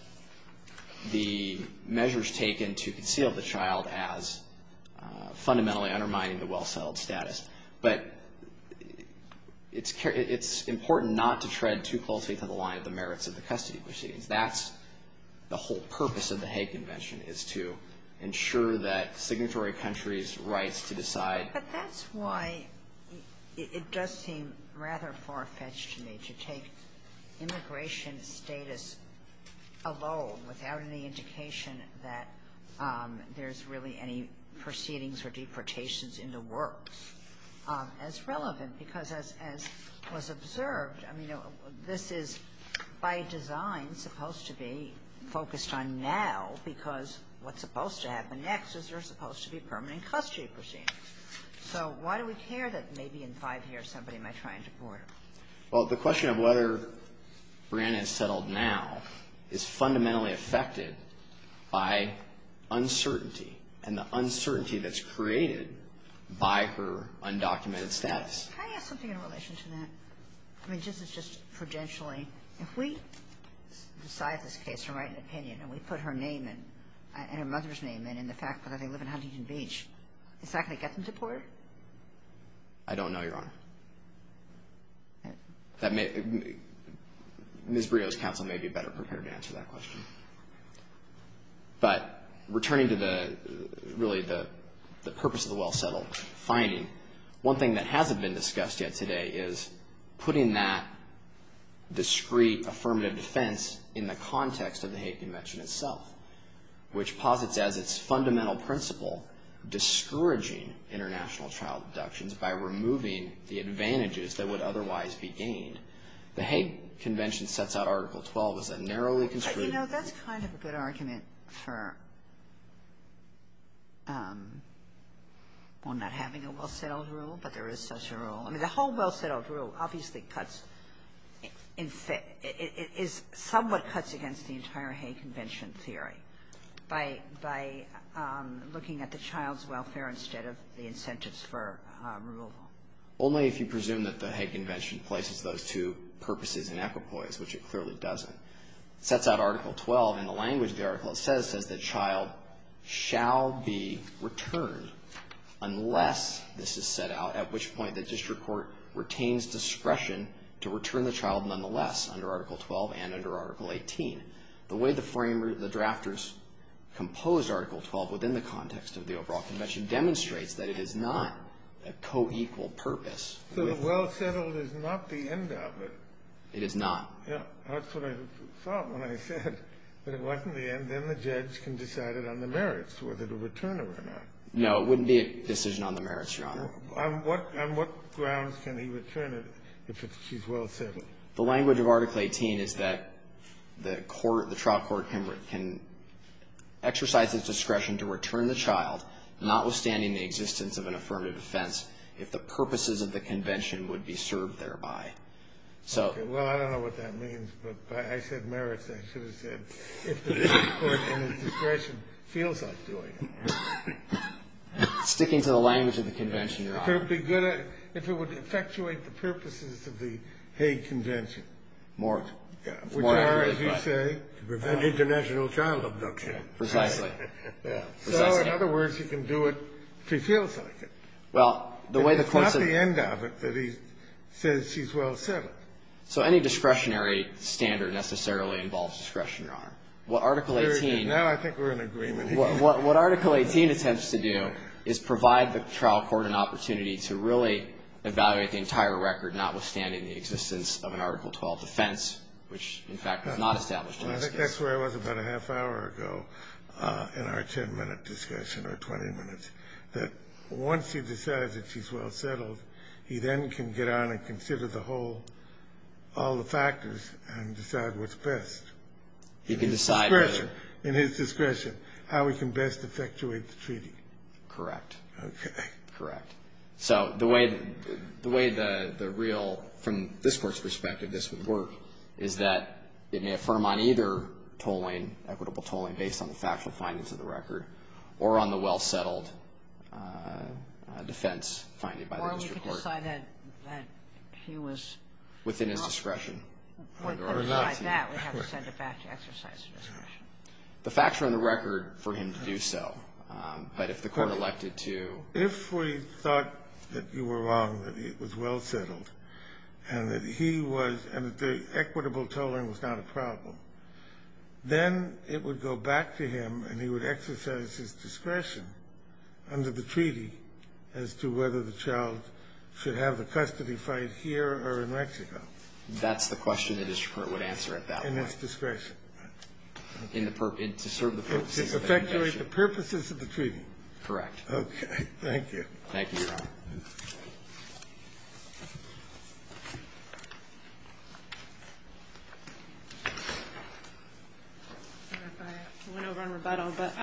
the measures taken to conceal the child as fundamentally undermining the well-settled status. But it's important not to tread too closely to the line of the merits of the custody proceedings. That's the whole purpose of the Hague Convention, is to ensure that signatory countries' rights to decide. But that's why it does seem rather far-fetched to me to take immigration status alone, without any indication that there's really any proceedings or deportations in the works, as relevant. Because as was observed, I mean, this is by design supposed to be focused on now, because what's supposed to happen next is there's supposed to be permanent custody proceedings. So why do we care that maybe in five years somebody might try and deport her? Well, the question of whether Brianna is settled now is fundamentally affected by uncertainty and the uncertainty that's created by her undocumented status. Can I ask something in relation to that? I mean, this is just prudentially. If we decide this case or write an opinion and we put her name in, and her mother's name in, and the fact that they live in Huntington Beach, is that going to get them deported? I don't know, Your Honor. Ms. Brio's counsel may be better prepared to answer that question. But returning to the, really, the purpose of the well-settled finding, one thing that hasn't been discussed yet today is putting that discreet affirmative defense in the context of the hate convention itself, which posits as its fundamental principle discouraging international child abductions by removing the advantages that would otherwise be gained. The hate convention sets out Article 12 as a narrowly construed... You know, that's kind of a good argument for, well, not having a well-settled rule, but there is such a rule. I mean, the whole well-settled rule obviously cuts, is somewhat cuts against the entire hate convention theory by, by looking at the child's welfare instead of the incentives for removal. Only if you presume that the hate convention places those two purposes in equipoise, which it clearly doesn't. It sets out Article 12 in the language the article says, says the child shall be returned unless this is set out, at which point the district court retains discretion to return the child nonetheless under Article 12 and under Article 18. The way the framers, the drafters composed Article 12 within the context of the overall convention demonstrates that it is not a co-equal purpose. So the well-settled is not the end of it. It is not. Yeah. That's what I thought when I said that it wasn't the end. Then the judge can decide it on the merits, whether to return it or not. No. It wouldn't be a decision on the merits, Your Honor. On what grounds can he return it if she's well settled? The language of Article 18 is that the court, the trial court can exercise its discretion to return the child, notwithstanding the existence of an affirmative offense, if the purposes of the convention would be served thereby. Okay. Well, I don't know what that means, but I said merits. I should have said if the court and its discretion feels like doing it. Sticking to the language of the convention, Your Honor. If it would effectuate the purposes of the Hague Convention. More. Which are, as you say, to prevent international child abduction. Precisely. Precisely. So, in other words, he can do it if he feels like it. Well, the way the court says he's well settled. So any discretionary standard necessarily involves discretion, Your Honor. What Article 18. Now I think we're in agreement. What Article 18 attempts to do is provide the trial court an opportunity to really evaluate the entire record, notwithstanding the existence of an Article 12 offense, which, in fact, was not established in this case. Well, I think that's where I was about a half hour ago in our 10-minute discussion or 20 minutes, that once he decides that she's well settled, he then can get on and all the factors and decide what's best. He can decide. In his discretion. In his discretion, how he can best effectuate the treaty. Correct. Okay. Correct. So the way the real, from this Court's perspective, this would work, is that it may affirm on either tolling, equitable tolling, based on the factual findings of the record, or on the well settled defense finding by the district court. If the court decided that he was wrong. Within his discretion. By that, we have to send it back to exercise discretion. The facts are on the record for him to do so. But if the court elected to. If we thought that you were wrong, that it was well settled, and that he was, and that the equitable tolling was not a problem, then it would go back to him and he would exercise his discretion under the treaty as to whether the child should have a custody fight here or in Mexico. That's the question the district court would answer at that point. In his discretion. In the purpose, to serve the purposes of the treaty. Effectuate the purposes of the treaty. Correct. Okay. Thank you. Thank you, Your Honor. I went over on rebuttal. But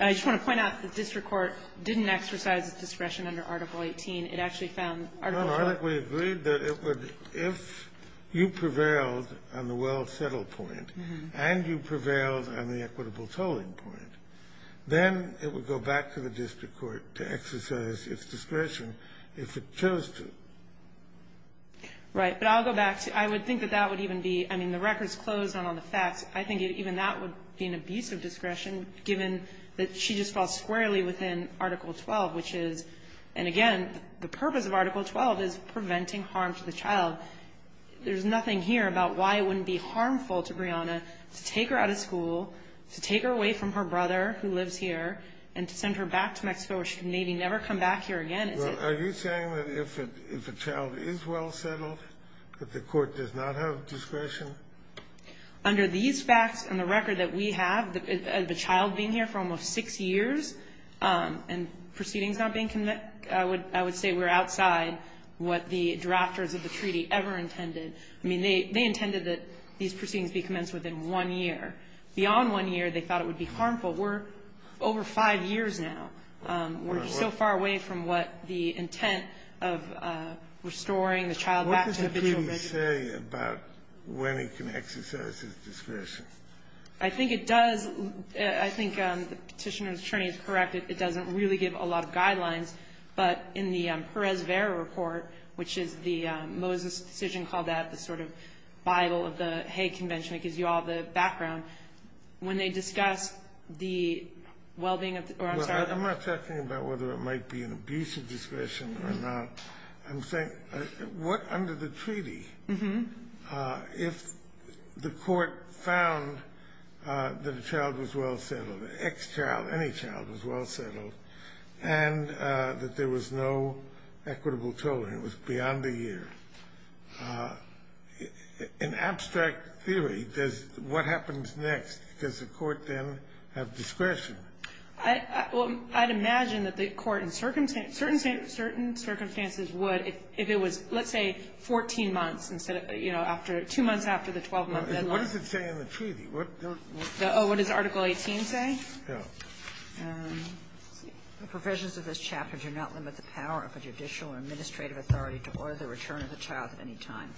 I just want to point out that the district court didn't exercise its discretion under Article 18. It actually found Article 12. No, no. We agreed that it would, if you prevailed on the well settled point, and you prevailed on the equitable tolling point, then it would go back to the district court to exercise its discretion if it chose to. Right. But I'll go back to, I would think that that would even be, I mean, the record's closed on all the facts. I think even that would be an abuse of discretion given that she just falls squarely within Article 12, which is, and again, the purpose of Article 12 is preventing harm to the child. There's nothing here about why it wouldn't be harmful to Brianna to take her out of school, to take her away from her brother who lives here, and to send her back to here again. Are you saying that if a child is well settled, that the court does not have discretion? Under these facts and the record that we have, the child being here for almost six years, and proceedings not being commenced, I would say we're outside what the drafters of the treaty ever intended. I mean, they intended that these proceedings be commenced within one year. Beyond one year, they thought it would be harmful. We're over five years now. We're so far away from what the intent of restoring the child back to the original What does the treaty say about when it can exercise its discretion? I think it does. I think the Petitioner's attorney is correct. It doesn't really give a lot of guidelines. But in the Perez-Vera report, which is the Moses decision called that, the sort of Bible of the Hague Convention that gives you all the background, when they discuss the well-being of the child. I'm not talking about whether it might be an abuse of discretion or not. I'm saying, what under the treaty, if the court found that a child was well settled, an ex-child, any child was well settled, and that there was no equitable tolerance, it was beyond a year. In abstract theory, what happens next? Does the court then have discretion? I'd imagine that the court in certain circumstances would, if it was, let's say, 14 months instead of, you know, two months after the 12-month deadline. What does it say in the treaty? What does Article 18 say? The provisions of this chapter do not limit the power of a judicial or administrative authority to order the return of a child at any time.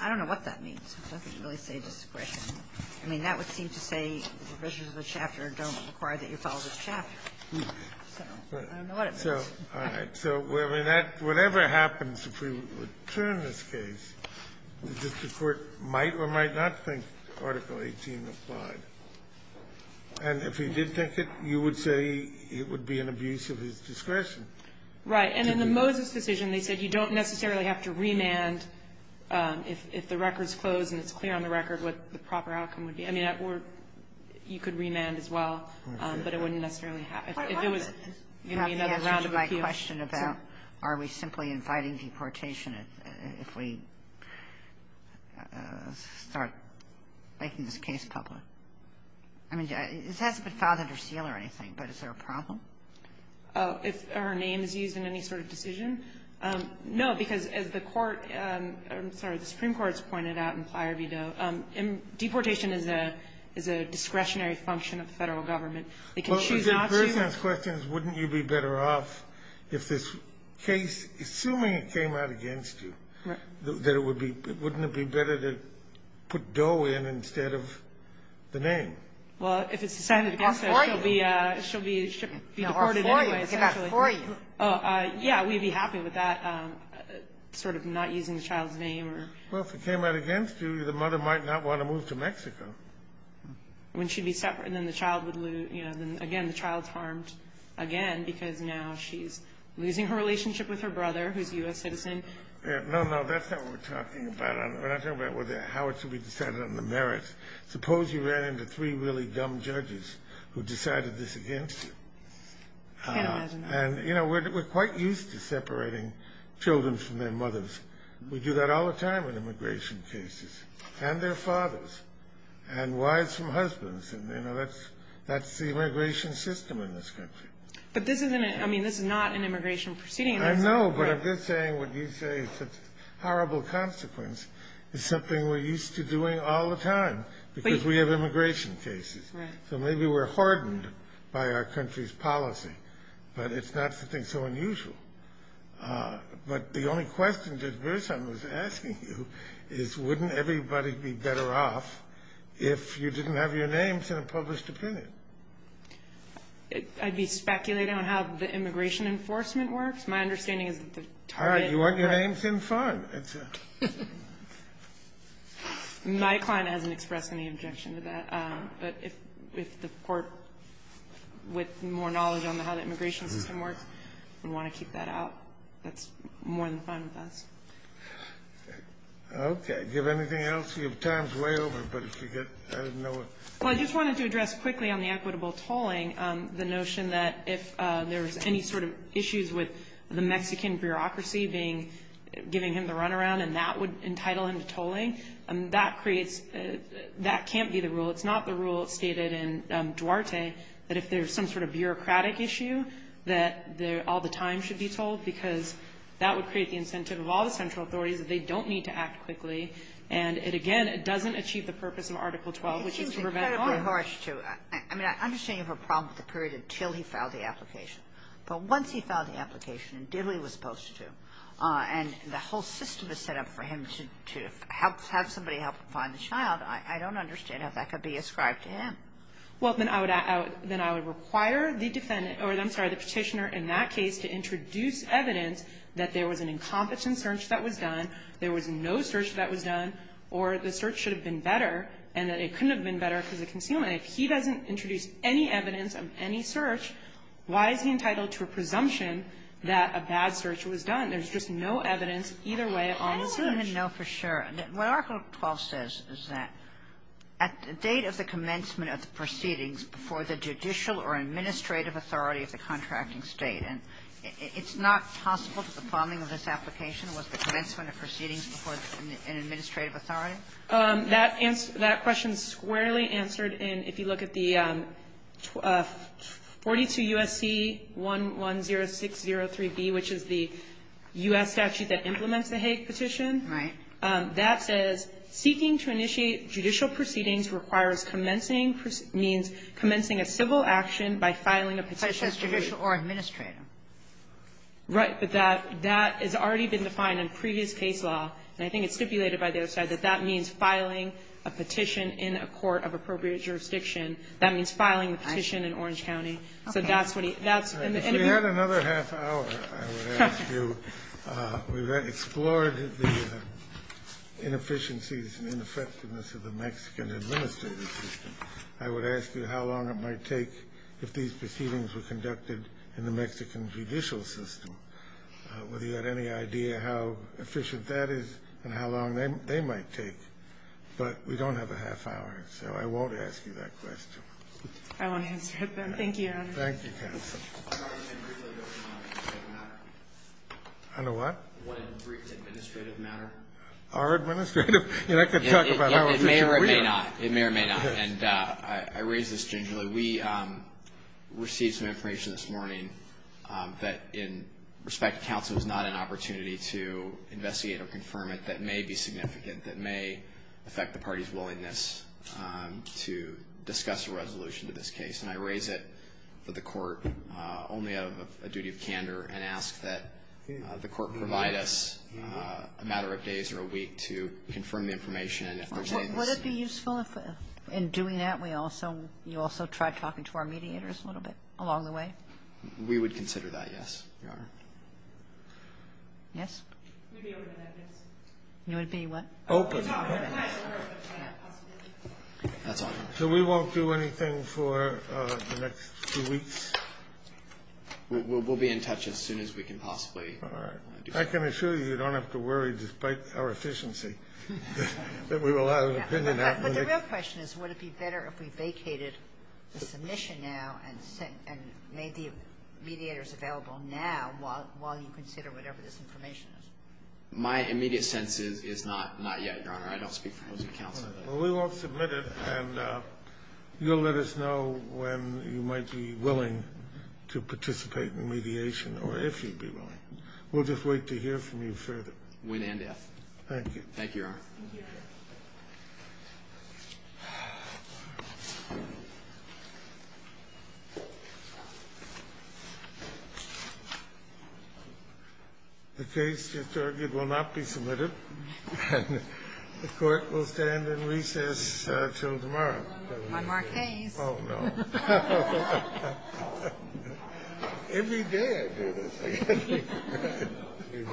I don't know what that means. It doesn't really say discretion. I mean, that would seem to say the provisions of the chapter don't require that you follow the chapter. So I don't know what it means. So whatever happens, if we return this case, the court might or might not think Article 18 applied. And if he did think it, you would say it would be an abuse of his discretion. And in the Moses decision they said you don't necessarily have to remand if the record's closed and it's clear on the record what the proper outcome would be. I mean, you could remand as well, but it wouldn't necessarily happen. If it was going to be another round of abuse. Kagan. You have to answer to my question about are we simply inviting deportation if we start making this case public? I mean, this hasn't been filed under seal or anything, but is there a problem? If her name is used in any sort of decision? No, because as the Supreme Court has pointed out in Plyer v. Doe, deportation is a discretionary function of the federal government. They can choose not to. The person's question is wouldn't you be better off if this case, assuming it came out against you, wouldn't it be better to put Doe in instead of the name? Well, if it's decided against her, she'll be deported anyway, essentially. Yeah, we'd be happy with that, sort of not using the child's name. Well, if it came out against you, the mother might not want to move to Mexico. When she'd be separate and then the child would lose, again, the child's harmed again because now she's losing her relationship with her brother who's a U.S. citizen. No, no, that's not what we're talking about. We're not talking about how it should be decided on the merits. Suppose you ran into three really dumb judges who decided this against you. I can't imagine that. And, you know, we're quite used to separating children from their mothers. We do that all the time in immigration cases, and their fathers, and wives from husbands. And, you know, that's the immigration system in this country. But this is not an immigration proceeding. I know, but I'm just saying what you say is such a horrible consequence. It's something we're used to doing all the time because we have immigration cases. Right. So maybe we're hardened by our country's policy, but it's not something so unusual. But the only question that Bruce, I was asking you, is wouldn't everybody be better off if you didn't have your names in a published opinion? I'd be speculating on how the immigration enforcement works. My understanding is that the target. All right, you want your names in front. My client hasn't expressed any objection to that. But if the Court, with more knowledge on how the immigration system works, would want to keep that out, that's more than fine with us. Okay. Do you have anything else? Your time is way over, but if you get to know it. Well, I just wanted to address quickly on the equitable tolling, the notion that if there was any sort of issues with the Mexican bureaucracy being, giving him the runaround, and that would entitle him to tolling. That creates, that can't be the rule. It's not the rule stated in Duarte that if there's some sort of bureaucratic issue, that all the time should be tolled, because that would create the incentive of all the central authorities that they don't need to act quickly. And it, again, it doesn't achieve the purpose of Article 12, which is to prevent tolling. I mean, I understand you have a problem with the period until he filed the application. But once he filed the application, and did what he was supposed to do, and the whole system is set up for him to have somebody help him find the child, I don't understand how that could be ascribed to him. Well, then I would require the defendant, or I'm sorry, the Petitioner in that case to introduce evidence that there was an incompetent search that was done, there was no search that was done, or the search should have been better, and that it couldn't have been better because of concealment. If he doesn't introduce any evidence of any search, why is he entitled to a presumption that a bad search was done? There's just no evidence either way on the search. I don't even know for sure. What Article 12 says is that at the date of the commencement of the proceedings before the judicial or administrative authority of the contracting State, and it's not possible that the plumbing of this application was the commencement of proceedings before an administrative authority? That question is squarely answered in, if you look at the 42 U.S.C. 110603B, which is the U.S. statute that implements the Hague Petition. Right. That says, Seeking to initiate judicial proceedings requires commencing means commencing a civil action by filing a petition. It says judicial or administrative. Right. But that has already been defined in previous case law, and I think it's stipulated by the other side, that that means filing a petition in a court of appropriate jurisdiction. That means filing a petition in Orange County. So that's what he -- We had another half hour, I would ask you. We've explored the inefficiencies and ineffectiveness of the Mexican administrative system. I would ask you how long it might take if these proceedings were conducted in the Mexican judicial system, whether you had any idea how efficient that is and how long they might take. But we don't have a half hour, so I won't ask you that question. I won't answer it then. Thank you, Your Honor. Thank you, counsel. I know what? One brief administrative matter. Our administrative? You're not going to talk about how efficient we are. It may or it may not. It may or it may not. And I raise this gingerly. We received some information this morning that, in respect to counsel, is not an opportunity to investigate or confirm it that may be significant, that may affect the party's willingness to discuss a resolution to this case. And I raise it for the court only out of a duty of candor and ask that the court provide us a matter of days or a week to confirm the information and if there's Would it be useful if, in doing that, we also you also try talking to our mediators a little bit along the way? We would consider that, yes, Your Honor. Yes? We'd be open to that, yes. You would be what? Open. That's all. So we won't do anything for the next few weeks? We'll be in touch as soon as we can possibly. All right. I can assure you you don't have to worry, despite our efficiency, that we will have an opinion. But the real question is would it be better if we vacated the submission now and made the mediators available now while you consider whatever this information is? My immediate sense is not yet, Your Honor. I don't speak for those of counsel. Well, we won't submit it. And you'll let us know when you might be willing to participate in mediation or if you'd be willing. We'll just wait to hear from you further. Win and death. Thank you. Thank you, Your Honor. The case, it's argued, will not be submitted. And the Court will stand in recess until tomorrow. I'm our case. Oh, no. Every day. He's just getting anxious.